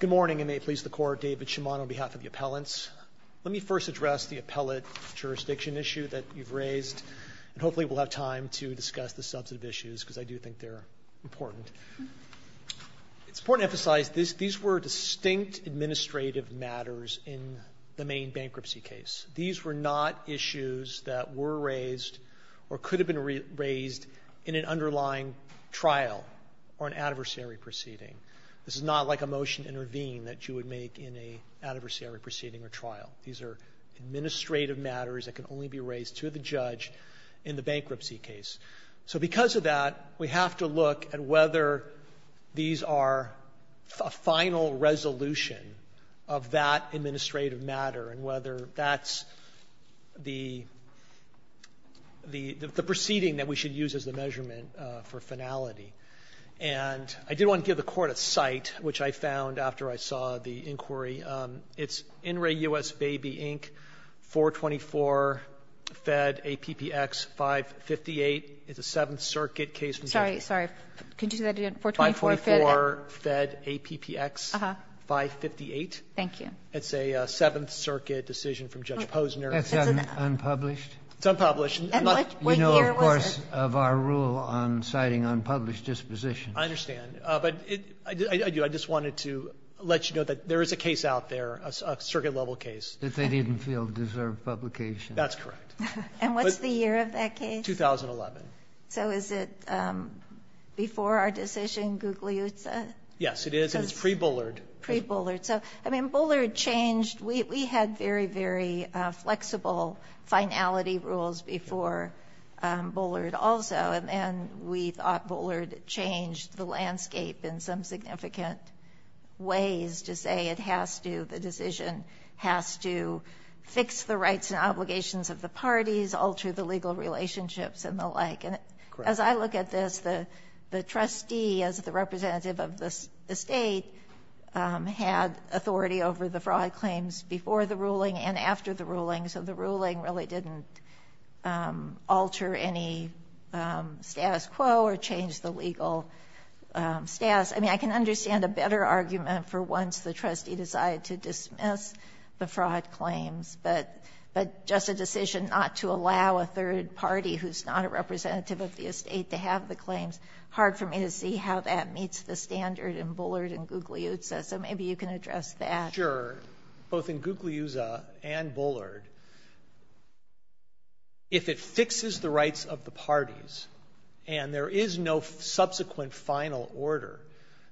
Good morning, and may it please the Court, David Shimon on behalf of the appellants. Let me first address the appellate jurisdiction issue that you've raised, and hopefully we'll have time to discuss the substantive issues because I do think they're important. It's important to emphasize these were distinct administrative matters in the main bankruptcy case. These were not issues that were raised or could have been raised in an underlying trial or an adversary proceeding. This is not like a motion to intervene that you would make in an adversary proceeding or trial. These are administrative matters that can only be raised to the judge in the bankruptcy case. So because of that, we have to look at whether these are a final resolution of that administrative matter and whether that's the proceeding that we should use as the measurement for finality. And I did want to give the Court a cite, which I found after I saw the inquiry. It's In Re US Baby, Inc., 424 Fed APPX 558. It's a Seventh Circuit case from Judge Posner. Kagan. Sorry. Sorry. Could you do that again? 424 Fed APPX 558. Thank you. It's a Seventh Circuit decision from Judge Posner. That's unpublished? It's unpublished. And what year was it? In the course of our rule on citing unpublished dispositions. I understand. But I just wanted to let you know that there is a case out there, a Circuit-level case. That they didn't feel deserved publication. That's correct. And what's the year of that case? 2011. So is it before our decision, Gugliuzza? Yes, it is. And it's pre-Bullard. Pre-Bullard. So, I mean, Bullard changed. We had very, very flexible finality rules before Bullard also. And we thought Bullard changed the landscape in some significant ways to say it has to, the decision has to fix the rights and obligations of the parties, alter the legal relationships, and the like. Correct. I mean, as I look at this, the trustee as the representative of the state had authority over the fraud claims before the ruling and after the ruling. So the ruling really didn't alter any status quo or change the legal status. I mean, I can understand a better argument for once the trustee decided to dismiss the fraud claims. But just a decision not to allow a third party who's not a representative of the state to have the claims, hard for me to see how that meets the standard in Bullard and Gugliuzza. So maybe you can address that. Sure. Both in Gugliuzza and Bullard, if it fixes the rights of the parties and there is no subsequent final order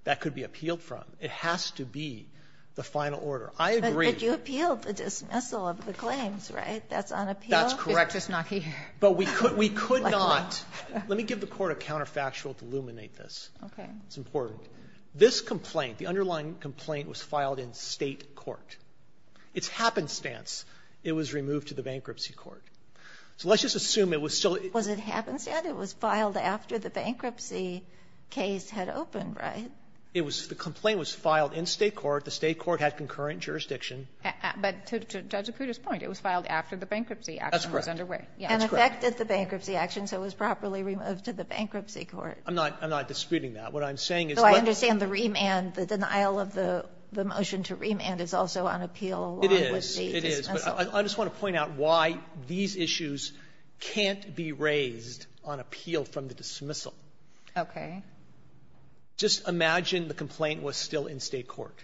that could be appealed from, it has to be the final order. I agree. But you appealed the dismissal of the claims, right? That's unappealed? That's correct. Just knock it here. But we could not. Let me give the Court a counterfactual to illuminate this. Okay. It's important. This complaint, the underlying complaint, was filed in state court. It's happenstance it was removed to the bankruptcy court. So let's just assume it was still Was it happenstance? It was filed after the bankruptcy case had opened, right? The complaint was filed in state court. The state court had concurrent jurisdiction. But to Judge Acuda's point, it was filed after the bankruptcy action was underway. That's correct. And affected the bankruptcy action, so it was properly removed to the bankruptcy court. I'm not disputing that. What I'm saying is the What I understand the remand, the denial of the motion to remand is also on appeal along with the dismissal. It is. It is. But I just want to point out why these issues can't be raised on appeal from the dismissal. Okay. Just imagine the complaint was still in state court.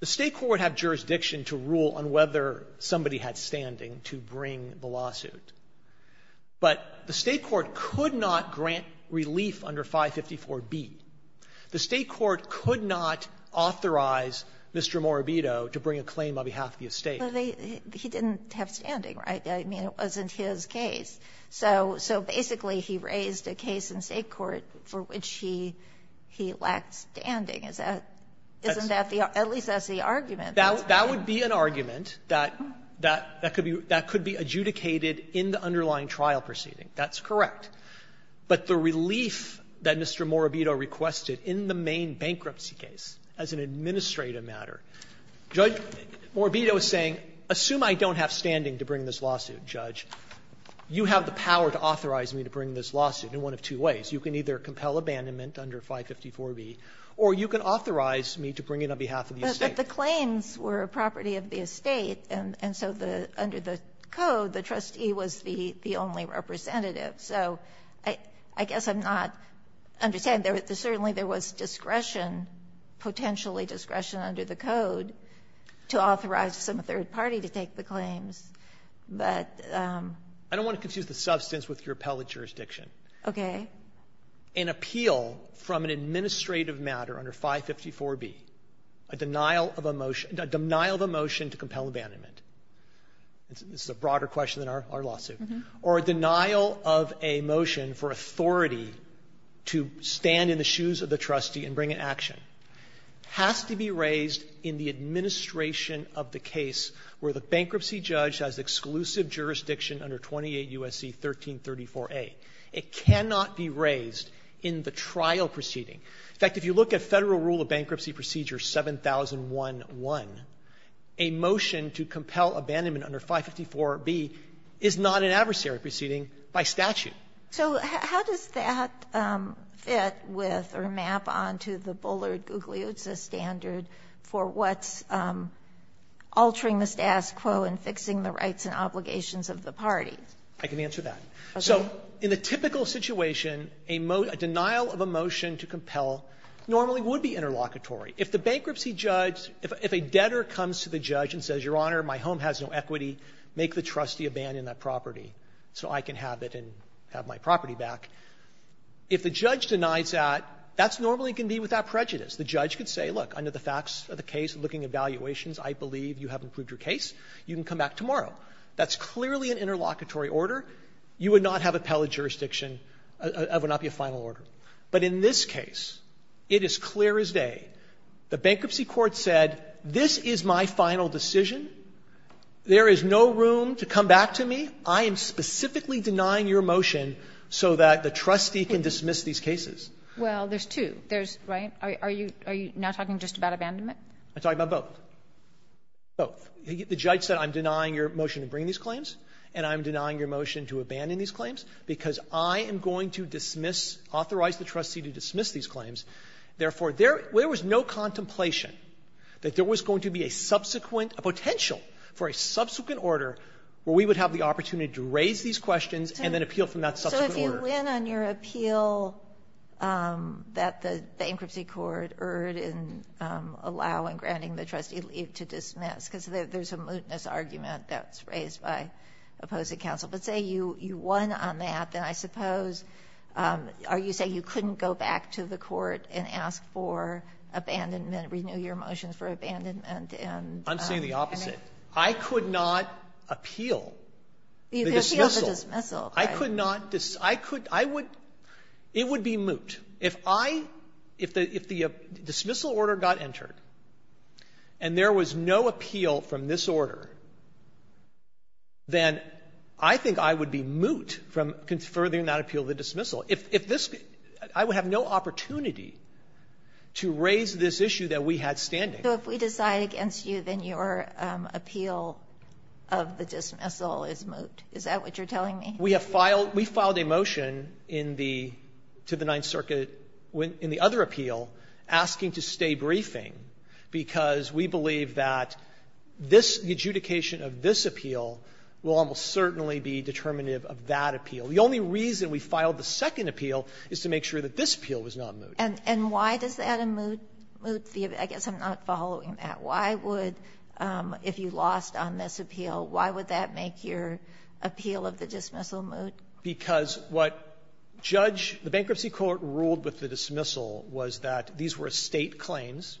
The state court had jurisdiction to rule on whether somebody had standing to bring the lawsuit. But the state court could not grant relief under 554B. The state court could not authorize Mr. Morabito to bring a claim on behalf of the estate. He didn't have standing, right? I mean, it wasn't his case. So basically he raised a case in state court for which he lacked standing. Isn't that the at least that's the argument. That would be an argument that could be adjudicated in the underlying trial proceeding. That's correct. But the relief that Mr. Morabito requested in the main bankruptcy case as an administrative matter, Judge Morabito is saying, assume I don't have standing to bring this lawsuit, Judge, you have the power to authorize me to bring this lawsuit in one of two ways. You can either compel abandonment under 554B or you can authorize me to bring it on behalf of the estate. But the claims were property of the estate, and so under the code, the trustee was the only representative. So I guess I'm not understanding. Certainly there was discretion, potentially discretion under the code, to authorize some third party to take the claims. I don't want to confuse the substance with your appellate jurisdiction. Okay. An appeal from an administrative matter under 554B, a denial of a motion to compel abandonment, this is a broader question than our lawsuit, or a denial of a motion for authority to stand in the shoes of the trustee and bring an action, has to be a case where the bankruptcy judge has exclusive jurisdiction under 28 U.S.C. 1334A. It cannot be raised in the trial proceeding. In fact, if you look at Federal Rule of Bankruptcy Procedure 7011, a motion to compel abandonment under 554B is not an adversary proceeding by statute. So how does that fit with or map on to the Bullard-Guglielz standard for what's altering the status quo and fixing the rights and obligations of the party? I can answer that. Okay. So in the typical situation, a denial of a motion to compel normally would be interlocutory. If the bankruptcy judge, if a debtor comes to the judge and says, Your Honor, my home has no equity, make the trustee abandon that property so I can have it and have my property back, if the judge denies that, that normally can be without prejudice. The judge could say, Look, under the facts of the case, looking at valuations, I believe you have improved your case. You can come back tomorrow. That's clearly an interlocutory order. You would not have appellate jurisdiction. That would not be a final order. But in this case, it is clear as day. The bankruptcy court said, This is my final decision. There is no room to come back to me. I am specifically denying your motion so that the trustee can dismiss these cases. Well, there's two. There's, right? Are you now talking just about abandonment? I'm talking about both. Both. The judge said, I'm denying your motion to bring these claims, and I'm denying your motion to abandon these claims, because I am going to dismiss, authorize the trustee to dismiss these claims. Therefore, there was no contemplation that there was going to be a subsequent or potential for a subsequent order where we would have the opportunity to raise these questions and then appeal from that subsequent order. So if you win on your appeal that the bankruptcy court erred in allowing, granting the trustee leave to dismiss, because there's a mootness argument that's raised by opposing counsel, but say you won on that, then I suppose are you saying you couldn't go back to the court and ask for abandonment, renew your motion for abandonment? I'm saying the opposite. I could not appeal the dismissal. You could appeal the dismissal. I could not. I could. I would. It would be moot. If I, if the dismissal order got entered and there was no appeal from this order, then I think I would be moot from furthering that appeal to dismissal. If this, I would have no opportunity to raise this issue that we had standing. So if we decide against you, then your appeal of the dismissal is moot. Is that what you're telling me? We have filed, we filed a motion in the, to the Ninth Circuit in the other appeal asking to stay briefing, because we believe that this, the adjudication of this appeal will almost certainly be determinative of that appeal. The only reason we filed the second appeal is to make sure that this appeal was not moot. And why does that moot the, I guess I'm not following that. Why would, if you lost on this appeal, why would that make your appeal of the dismissal moot? Because what judge, the bankruptcy court ruled with the dismissal was that these were estate claims.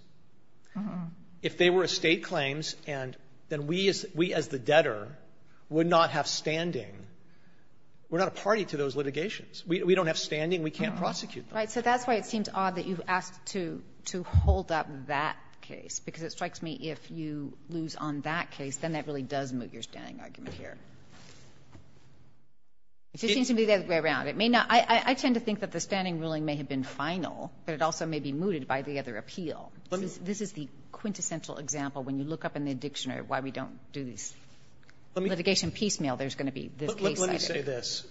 If they were estate claims, and then we as, we as the debtor would not have standing. We're not a party to those litigations. We don't have standing. We can't prosecute them. Right. So that's why it seems odd that you've asked to, to hold up that case, because it strikes me if you lose on that case, then that really does moot your standing argument here. It just seems to be the other way around. It may not. I tend to think that the standing ruling may have been final, but it also may be mooted by the other appeal. This is the quintessential example when you look up in the dictionary why we don't do these litigation piecemeal, there's going to be this case. Let me say this.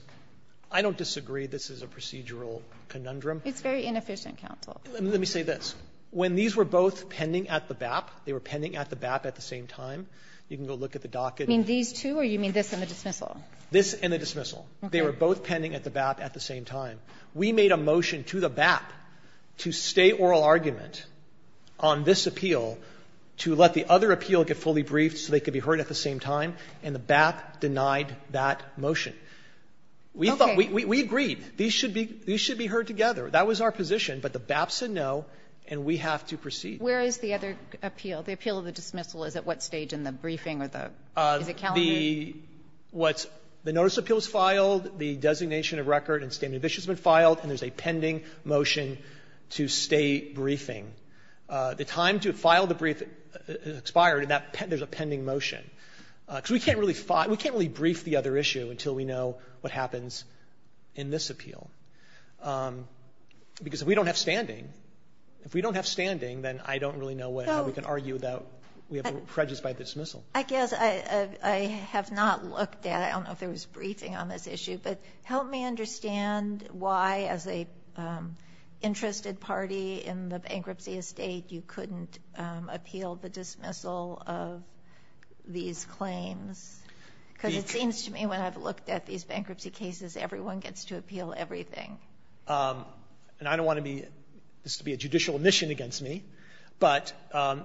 I don't disagree this is a procedural conundrum. It's very inefficient, counsel. Let me say this. When these were both pending at the BAP, they were pending at the BAP at the same time, you can go look at the docket. You mean these two or you mean this and the dismissal? This and the dismissal. Okay. They were both pending at the BAP at the same time. We made a motion to the BAP to stay oral argument on this appeal to let the other appeal get fully briefed so they could be heard at the same time, and the BAP denied that motion. Okay. We thought, we agreed these should be, these should be heard together. That was our position. But the BAP said no, and we have to proceed. Where is the other appeal? The appeal of the dismissal is at what stage in the briefing or the, is it calendar? The, what's, the notice of appeal is filed, the designation of record and statement of issue has been filed, and there's a pending motion to stay briefing. The time to file the brief expired, and that, there's a pending motion. Because we can't really, we can't really brief the other issue until we know what happens in this appeal. Because if we don't have standing, if we don't have standing, then I don't really know what, how we can argue that we have prejudice by dismissal. I guess I, I have not looked at, I don't know if there was briefing on this issue, but help me understand why, as a interested party in the bankruptcy estate, you couldn't appeal the dismissal of these claims. Because it seems to me when I've looked at these bankruptcy cases, everyone gets to appeal everything. And I don't want to be, this would be a judicial omission against me, but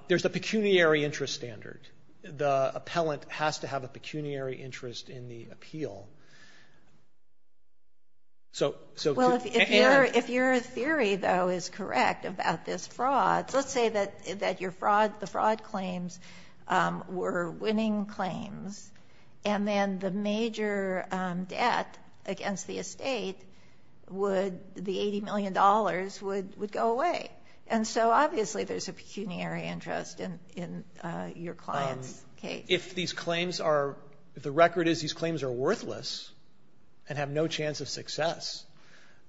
there's a pecuniary interest standard. The appellant has to have a pecuniary interest in the appeal. So, so. Well, if your, if your theory, though, is correct about this fraud, let's say that, that your fraud, the fraud claims were winning claims. And then the major debt against the estate would, the $80 million would, would go away. And so obviously there's a pecuniary interest in, in your client's case. If these claims are, if the record is these claims are worthless and have no chance of success,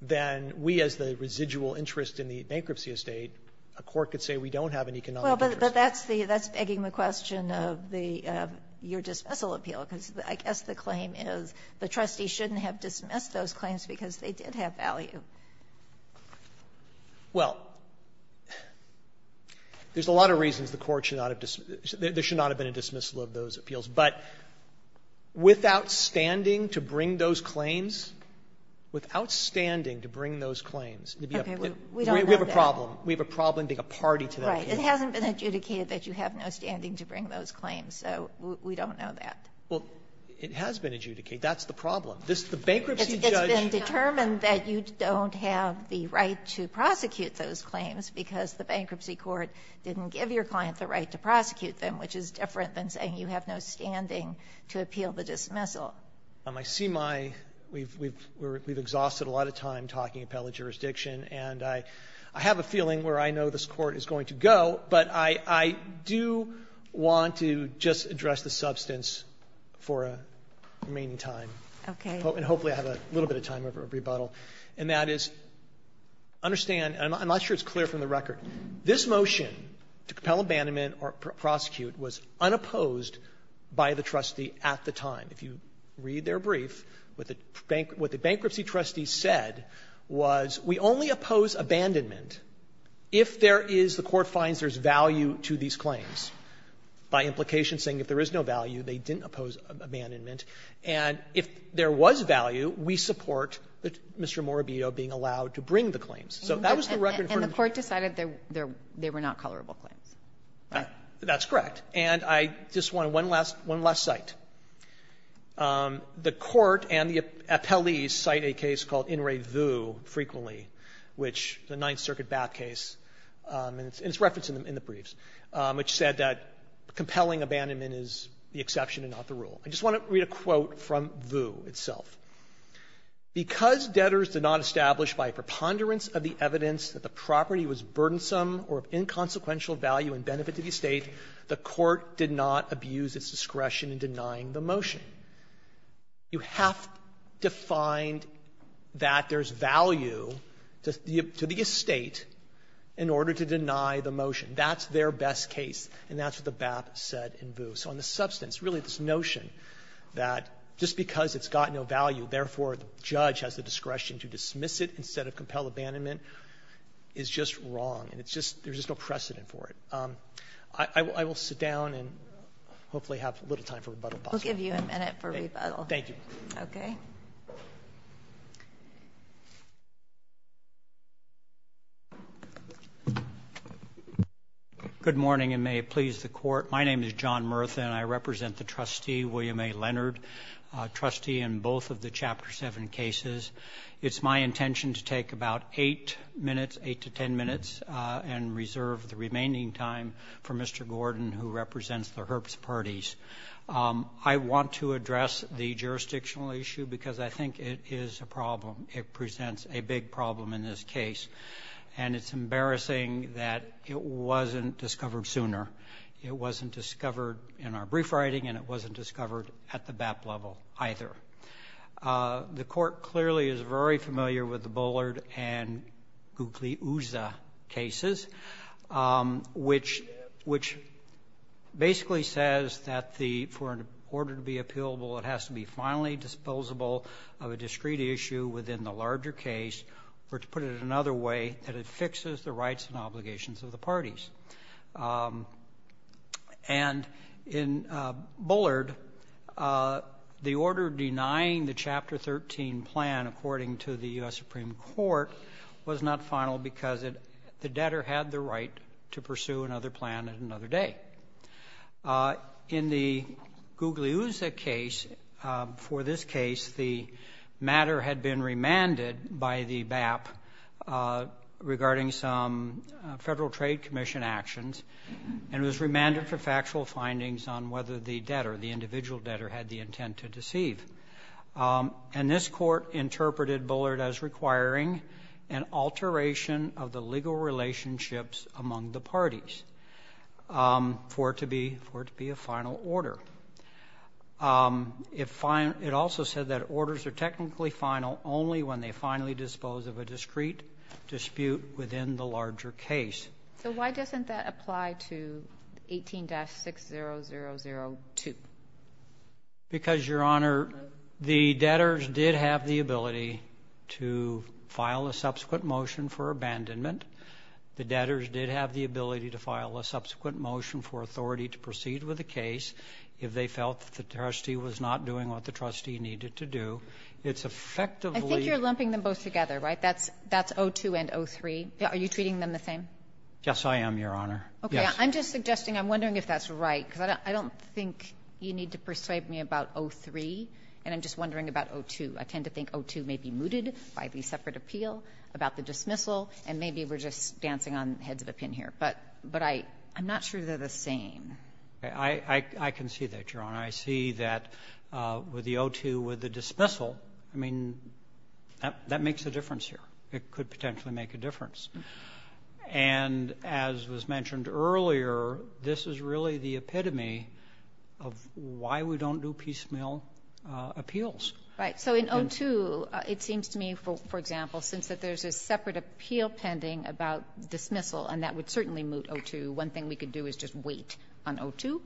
then we as the residual interest in the bankruptcy estate, a court could say we don't have an economic interest. But, but that's the, that's begging the question of the, your dismissal appeal. Because I guess the claim is the trustee shouldn't have dismissed those claims because they did have value. Well, there's a lot of reasons the court should not have, there should not have been a dismissal of those appeals. But without standing to bring those claims, without standing to bring those claims. Okay. We don't know that. We have a problem. We have a problem being a party to that. Right. It hasn't been adjudicated that you have no standing to bring those claims. So we don't know that. Well, it has been adjudicated. That's the problem. This, the bankruptcy judge. It's been determined that you don't have the right to prosecute those claims because the bankruptcy court didn't give your client the right to prosecute them, which is different than saying you have no standing to appeal the dismissal. I see my, we've, we've, we've exhausted a lot of time talking appellate jurisdiction. And I, I have a feeling where I know this court is going to go. But I, I do want to just address the substance for a remaining time. Okay. And hopefully I have a little bit of time for a rebuttal. And that is, understand, and I'm not sure it's clear from the record, this motion to compel abandonment or prosecute was unopposed by the trustee at the time. If you read their brief, what the bankruptcy trustee said was we only oppose abandonment if there is, the court finds there's value to these claims, by implication saying if there is no value, they didn't oppose abandonment. And if there was value, we support Mr. Morabito being allowed to bring the claims. So that was the record. And the court decided they were not colorable claims. That's correct. And I just want one last, one last cite. The court and the appellees cite a case called In Re Vu frequently, which the Ninth Circuit Bath case, and it's referenced in the briefs, which said that compelling abandonment is the exception and not the rule. I just want to read a quote from Vu itself. Because debtors did not establish by preponderance of the evidence that the property was burdensome or of inconsequential value and benefit to the estate, the court did not abuse its discretion in denying the motion. You have to find that there's value to the estate in order to deny the motion. That's their best case. And that's what the BAP said in Vu. So on the substance, really this notion that just because it's got no value, therefore the judge has the discretion to dismiss it instead of compel abandonment is just wrong. And it's just, there's just no precedent for it. I will sit down and hopefully have a little time for rebuttal. We'll give you a minute for rebuttal. Thank you. Okay. Good morning, and may it please the Court. My name is John Murtha, and I represent the trustee, William A. Leonard, trustee in both of the Chapter 7 cases. It's my intention to take about eight minutes, eight to ten minutes, and reserve the remaining time for Mr. Gordon, who represents the Herbst parties. I want to address the jurisdictional issue because I think it is a problem. It presents a big problem in this case. And it's embarrassing that it wasn't discovered sooner. It wasn't discovered in our brief writing, and it wasn't discovered at the BAP level either. The Court clearly is very familiar with the Bullard and Gugliusa cases, which basically says that for an order to be appealable, it has to be finally disposable of a discrete issue within the larger case, or to put it another way, that it fixes the rights and obligations of the parties. And in Bullard, the order denying the Chapter 13 plan, according to the U.S. Supreme Court, was not final because the debtor had the right to pursue another plan at another day. In the Gugliusa case, for this case, the matter had been remanded by the BAP regarding some Federal Trade Commission actions, and it was remanded for factual findings on whether the debtor, the individual debtor, had the intent to deceive. And this Court interpreted Bullard as requiring an alteration of the legal relationships among the parties. For it to be a final order. It also said that orders are technically final only when they finally dispose of a discrete dispute within the larger case. So why doesn't that apply to 18-6002? Because, Your Honor, the debtors did have the ability to file a subsequent motion for abandonment. The debtors did have the ability to file a subsequent motion for authority to proceed with the case if they felt that the trustee was not doing what the trustee needed to do. It's effectively... I think you're lumping them both together, right? That's 02 and 03. Are you treating them the same? Yes, I am, Your Honor. Okay. I'm just suggesting, I'm wondering if that's right, because I don't think you need to persuade me about 03, and I'm just wondering about 02. I tend to think 02 may be mooted by the separate appeal about the dismissal, and maybe we're just dancing on the heads of a pin here. But I'm not sure they're the same. I can see that, Your Honor. I see that with the 02 with the dismissal, I mean, that makes a difference here. It could potentially make a difference. And as was mentioned earlier, this is really the epitome of why we don't do piecemeal appeals. Right. So in 02, it seems to me, for example, since there's a separate appeal pending about dismissal, and that would certainly moot 02, one thing we could do is just wait on 02.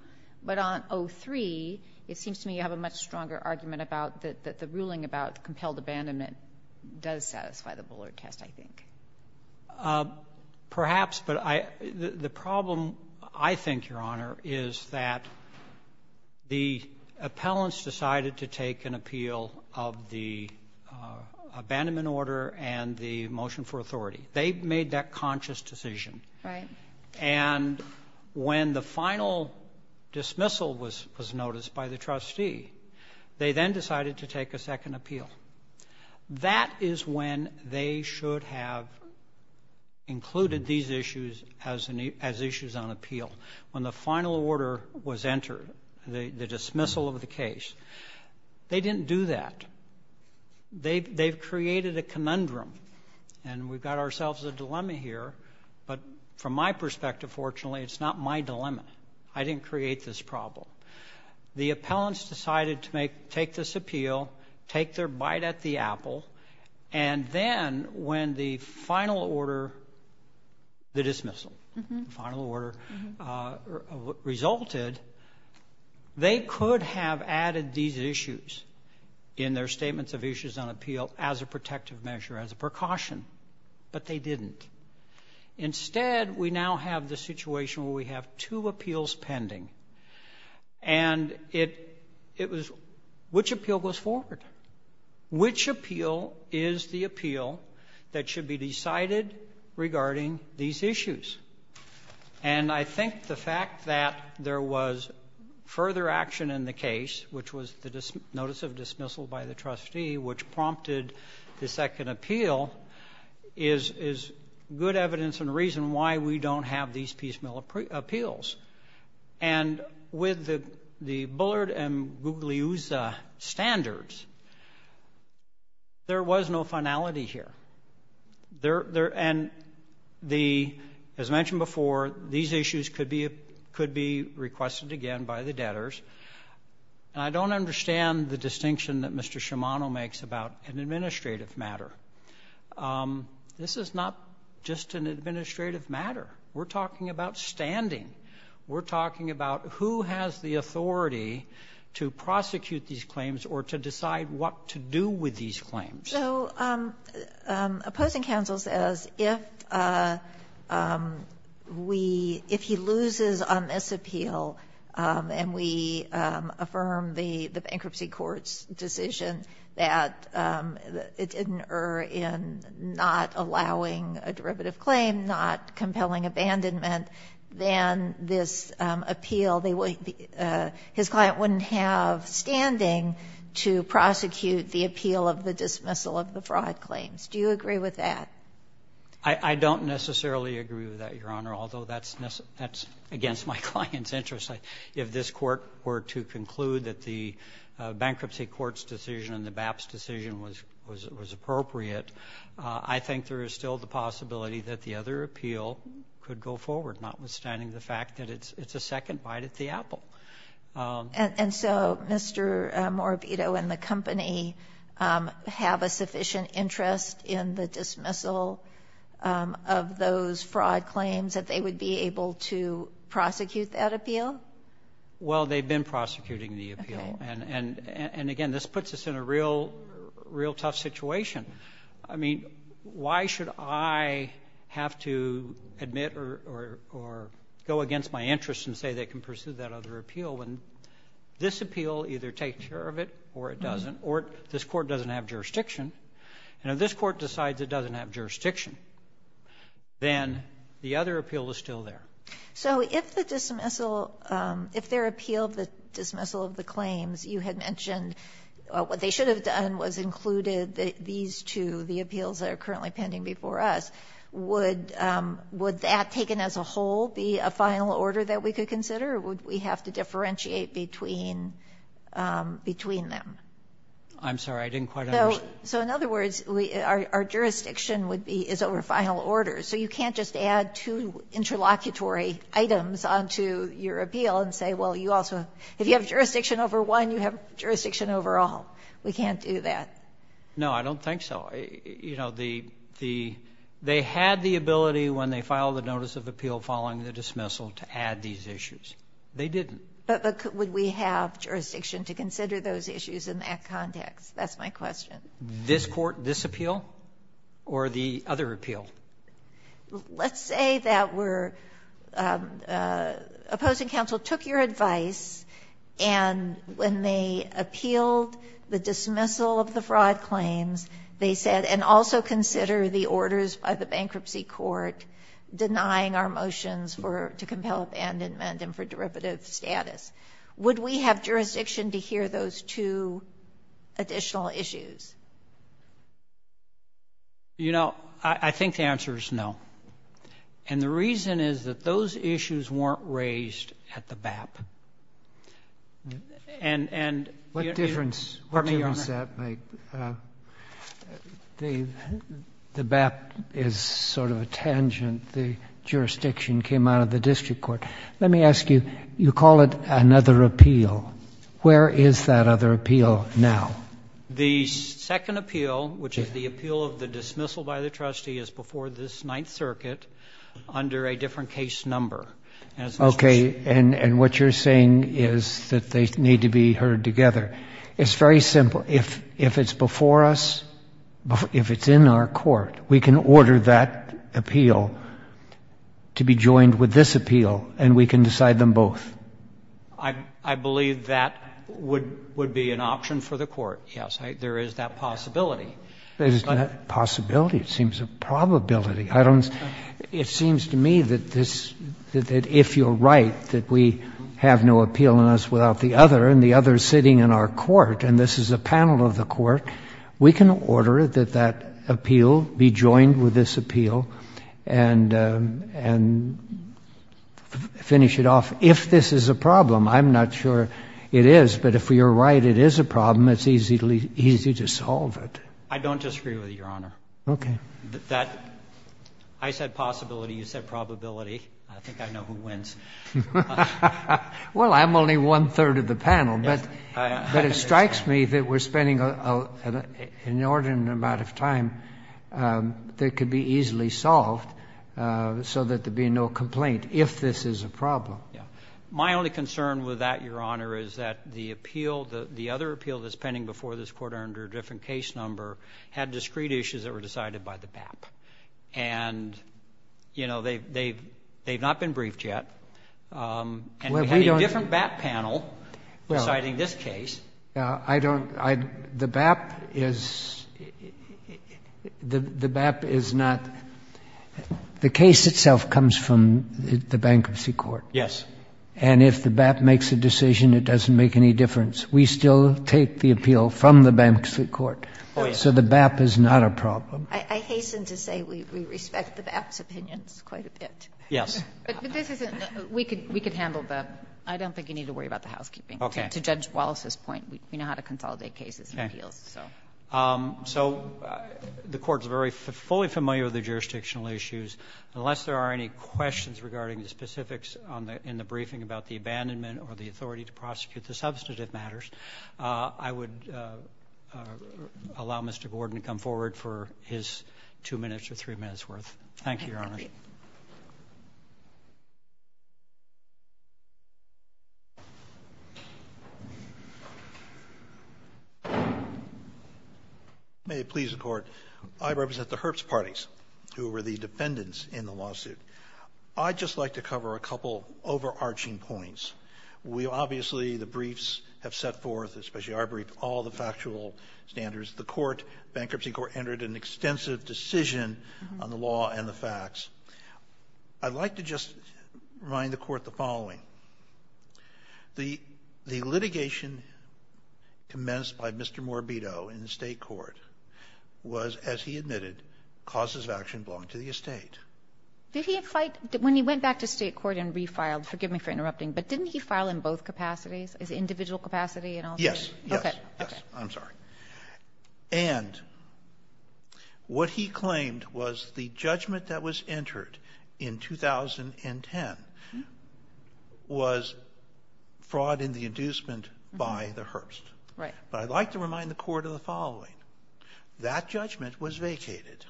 But on 03, it seems to me you have a much stronger argument about that the ruling about compelled abandonment does satisfy the Bullard test, I think. Perhaps, but the problem, I think, Your Honor, is that the appellants decided to take an appeal of the abandonment order and the motion for authority. They made that conscious decision. Right. And when the final dismissal was noticed by the trustee, they then decided to take a second appeal. That is when they should have included these issues as issues on appeal, when the final order was entered, the dismissal of the case. They didn't do that. They've created a conundrum, and we've got ourselves a dilemma here. But from my perspective, fortunately, it's not my dilemma. I didn't create this problem. The appellants decided to take this appeal, take their bite at the apple, and then when the final order, the dismissal, the final order resulted, they could have added these issues in their statements of issues on appeal as a protective measure, as a precaution. But they didn't. Instead, we now have the situation where we have two appeals pending. And it was which appeal goes forward? Which appeal is the appeal that should be decided regarding these issues? And I think the fact that there was further action in the case, which was the notice of dismissal by the trustee, which prompted the second appeal, is good evidence and reason why we don't have these piecemeal appeals. And with the Bullard and Gugliusa standards, there was no finality here. And as mentioned before, these issues could be requested again by the debtors. And I don't understand the distinction that Mr. Shimano makes about an administrative matter. This is not just an administrative matter. We're talking about standing. We're talking about who has the authority to prosecute these claims or to decide what to do with these claims. So opposing counsel says if he loses on this appeal and we affirm the bankruptcy court's decision that it didn't err in not allowing a derivative claim, not compelling abandonment, then this appeal, his client wouldn't have standing to prosecute the appeal of the dismissal of the fraud claims. Do you agree with that? I don't necessarily agree with that, Your Honor, although that's against my client's interest. If this court were to conclude that the bankruptcy court's decision and the BAP's decision was appropriate, I think there is still the possibility that the other appeal could go forward, notwithstanding the fact that it's a second bite at the apple. And so Mr. Morabito and the company have a sufficient interest in the dismissal of those fraud claims, that they would be able to prosecute that appeal? Well, they've been prosecuting the appeal. And again, this puts us in a real tough situation. I mean, why should I have to admit or go against my interest and say they can pursue that other appeal when this appeal either takes care of it or it doesn't, or this court doesn't have jurisdiction? And if this court decides it doesn't have jurisdiction, then the other appeal is still there. So if the dismissal of the claims you had mentioned, what they should have done was included these two, the appeals that are currently pending before us, would that, taken as a whole, be a final order that we could consider, or would we have to differentiate between them? I'm sorry, I didn't quite understand. So in other words, our jurisdiction is over final order. So you can't just add two interlocutory items onto your appeal and say, well, you also have jurisdiction over one, you have jurisdiction over all. We can't do that. No, I don't think so. You know, they had the ability when they filed the notice of appeal following the dismissal to add these issues. They didn't. But would we have jurisdiction to consider those issues in that context? That's my question. This court, this appeal, or the other appeal? Let's say that we're opposing counsel, took your advice, and when they appealed the dismissal of the fraud claims, they said, and also consider the orders by the bankruptcy court denying our motions to compel abandonment and for derivative status. Would we have jurisdiction to hear those two additional issues? You know, I think the answer is no. And the reason is that those issues weren't raised at the BAP. What difference does that make? The BAP is sort of a tangent. The jurisdiction came out of the district court. Let me ask you, you call it another appeal. Where is that other appeal now? The second appeal, which is the appeal of the dismissal by the trustee, is before this Ninth Circuit under a different case number. Okay. And what you're saying is that they need to be heard together. It's very simple. If it's before us, if it's in our court, we can order that appeal to be joined with this appeal, and we can decide them both. I believe that would be an option for the court, yes. There is that possibility. There is that possibility. It seems a probability. I don't see. It seems to me that this, that if you're right, that we have no appeal in us without the other, and the other is sitting in our court, and this is a panel of the court, we can order that that appeal be joined with this appeal and finish it off, if this is a problem. I'm not sure it is, but if you're right it is a problem, it's easy to solve it. I don't disagree with you, Your Honor. Okay. That, I said possibility, you said probability. I think I know who wins. Well, I'm only one-third of the panel, but it strikes me that we're spending an inordinate amount of time that could be easily solved so that there'd be no complaint, if this is a problem. Yeah. My only concern with that, Your Honor, is that the appeal, the other appeal that's pending before this court under a different case number, had discrete issues that were decided by the BAP. And, you know, they've not been briefed yet. And we had a different BAP panel deciding this case. I don't, the BAP is, the BAP is not, the case itself comes from the bankruptcy court. Yes. And if the BAP makes a decision, it doesn't make any difference. We still take the appeal from the bankruptcy court. Oh, yes. So the BAP is not a problem. I hasten to say we respect the BAP's opinions quite a bit. Yes. But this isn't, we could handle the, I don't think you need to worry about the housekeeping. Okay. To Judge Wallace's point, we know how to consolidate cases and appeals. Okay. So. So the court's very, fully familiar with the jurisdictional issues. Unless there are any questions regarding the specifics in the briefing about the abandonment or the authority to prosecute the substantive matters, I would allow Mr. Gordon to come forward for his two minutes or three minutes worth. Thank you, Your Honor. May it please the Court. I represent the Herbst parties who were the defendants in the lawsuit. I'd just like to cover a couple overarching points. We obviously, the briefs have set forth, especially our brief, all the factual standards. The court, bankruptcy court, entered an extensive decision on the law and the facts. I'd like to just remind the Court the following. The litigation commenced by Mr. Morbido in the State court was, as he admitted, causes of action belonging to the estate. Did he fight, when he went back to State court and refiled, forgive me for interrupting, but didn't he file in both capacities, his individual capacity and all that? Yes. Okay. Yes. Okay. I'm sorry. And what he claimed was the judgment that was entered in 2010 was fraud in the inducement by the Herbst. Right. But I'd like to remind the Court of the following. That judgment was vacated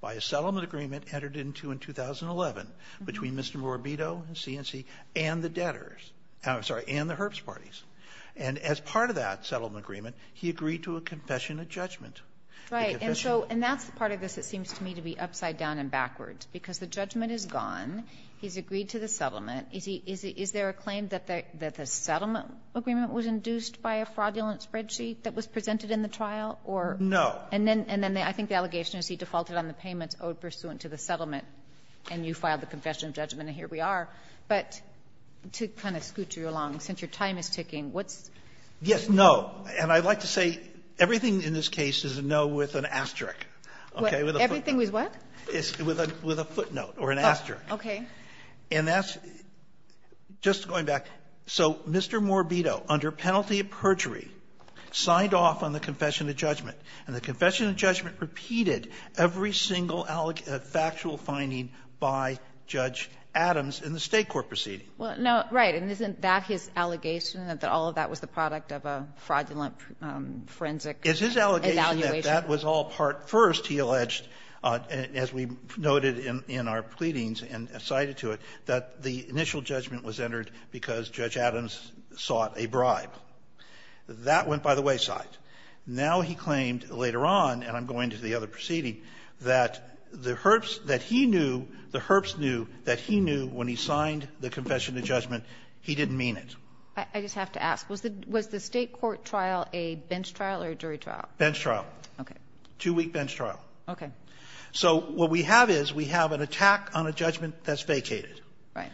by a settlement agreement entered into in 2011 between Mr. Morbido and C&C and the debtors. I'm sorry, and the Herbst parties. And as part of that settlement agreement, he agreed to a confession of judgment. Right. And so that's the part of this that seems to me to be upside down and backwards, because the judgment is gone. He's agreed to the settlement. Is there a claim that the settlement agreement was induced by a fraudulent spreadsheet that was presented in the trial, or? No. And then I think the allegation is he defaulted on the payments owed pursuant to the settlement, and you filed the confession of judgment, and here we are. But to kind of scoot you along, since your time is ticking, what's? Yes. No. And I'd like to say everything in this case is a no with an asterisk, okay, with a footnote. Everything was what? With a footnote or an asterisk. Okay. And that's just going back. So Mr. Morbito, under penalty of perjury, signed off on the confession of judgment, and the confession of judgment repeated every single factual finding by Judge Adams in the State court proceeding. Well, no, right. And isn't that his allegation, that all of that was the product of a fraudulent forensic evaluation? It's his allegation that that was all part first, he alleged, as we noted in our pleadings and cited to it, that the initial judgment was entered because Judge Adams sought a bribe. That went by the wayside. Now he claimed later on, and I'm going to the other proceeding, that the Herbst that he knew, the Herbst knew that he knew when he signed the confession of judgment he didn't mean it. I just have to ask, was the State court trial a bench trial or a jury trial? Bench trial. Okay. Two-week bench trial. Okay. So what we have is, we have an attack on a judgment that's vacated. Right.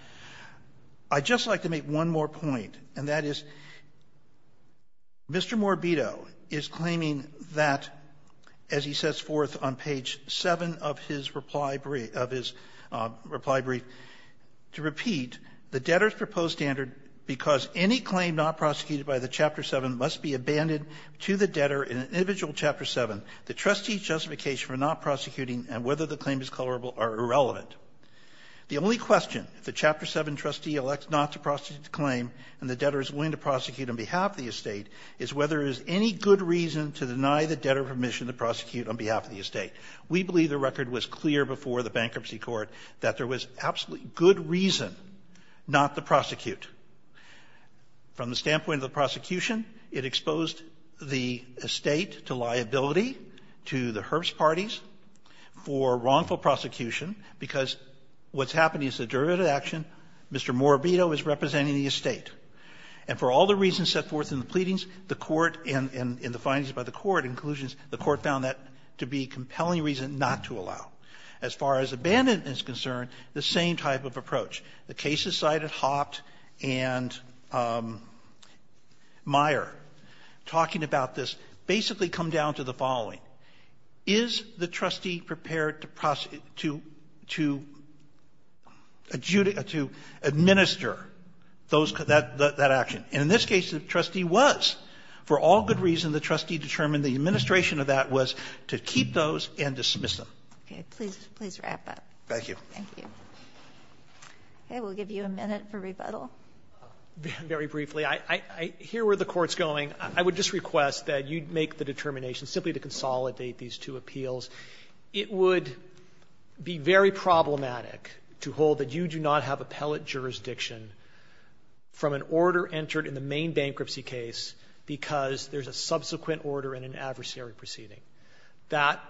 I'd just like to make one more point, and that is, Mr. Morbito is claiming that, as he sets forth on page 7 of his reply brief, of his reply brief, to repeat, the debtor's proposed standard, because any claim not prosecuted by the Chapter 7 must be abandoned to the debtor in an individual Chapter 7. The trustee's justification for not prosecuting and whether the claim is colorable are irrelevant. The only question, if the Chapter 7 trustee elects not to prosecute the claim and the debtor is willing to prosecute on behalf of the estate, is whether there is any good reason to deny the debtor permission to prosecute on behalf of the estate. We believe the record was clear before the bankruptcy court that there was absolutely good reason not to prosecute. From the standpoint of the prosecution, it exposed the estate to liability to the Herbst parties for wrongful prosecution, because what's happening is the derivative action, Mr. Morbito is representing the estate. And for all the reasons set forth in the pleadings, the Court, and in the findings by the Court, the Court found that to be a compelling reason not to allow. As far as abandonment is concerned, the same type of approach. The cases cited, Haupt and Meyer, talking about this, basically come down to the following. Is the trustee prepared to administer that action? And in this case, the trustee was. For all good reason, the trustee determined the administration of that was to keep those and dismiss them. Okay. Please wrap up. Thank you. Okay. We'll give you a minute for rebuttal. Very briefly, I hear where the Court's going. I would just request that you make the determination simply to consolidate these two appeals. It would be very problematic to hold that you do not have appellate jurisdiction from an order entered in the main bankruptcy case because there's a subsequent order in an adversary proceeding. That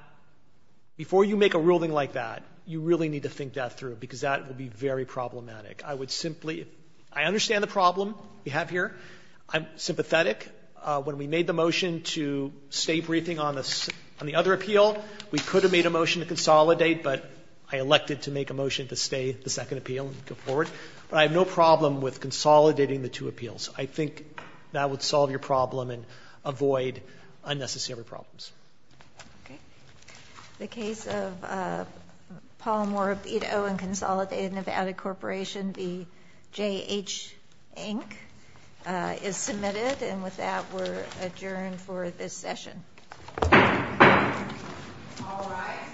before you make a ruling like that, you really need to think that through because that would be very problematic. I would simply – I understand the problem we have here. I'm sympathetic. When we made the motion to stay briefing on the other appeal, we could have made a motion to consolidate, but I elected to make a motion to stay the second appeal and go forward. But I have no problem with consolidating the two appeals. I think that would solve your problem and avoid unnecessary problems. Okay. The case of Paul Morabito and Consolidated Nevada Corporation v. J.H. Inc. is submitted. And with that, we're adjourned for this session. All rise.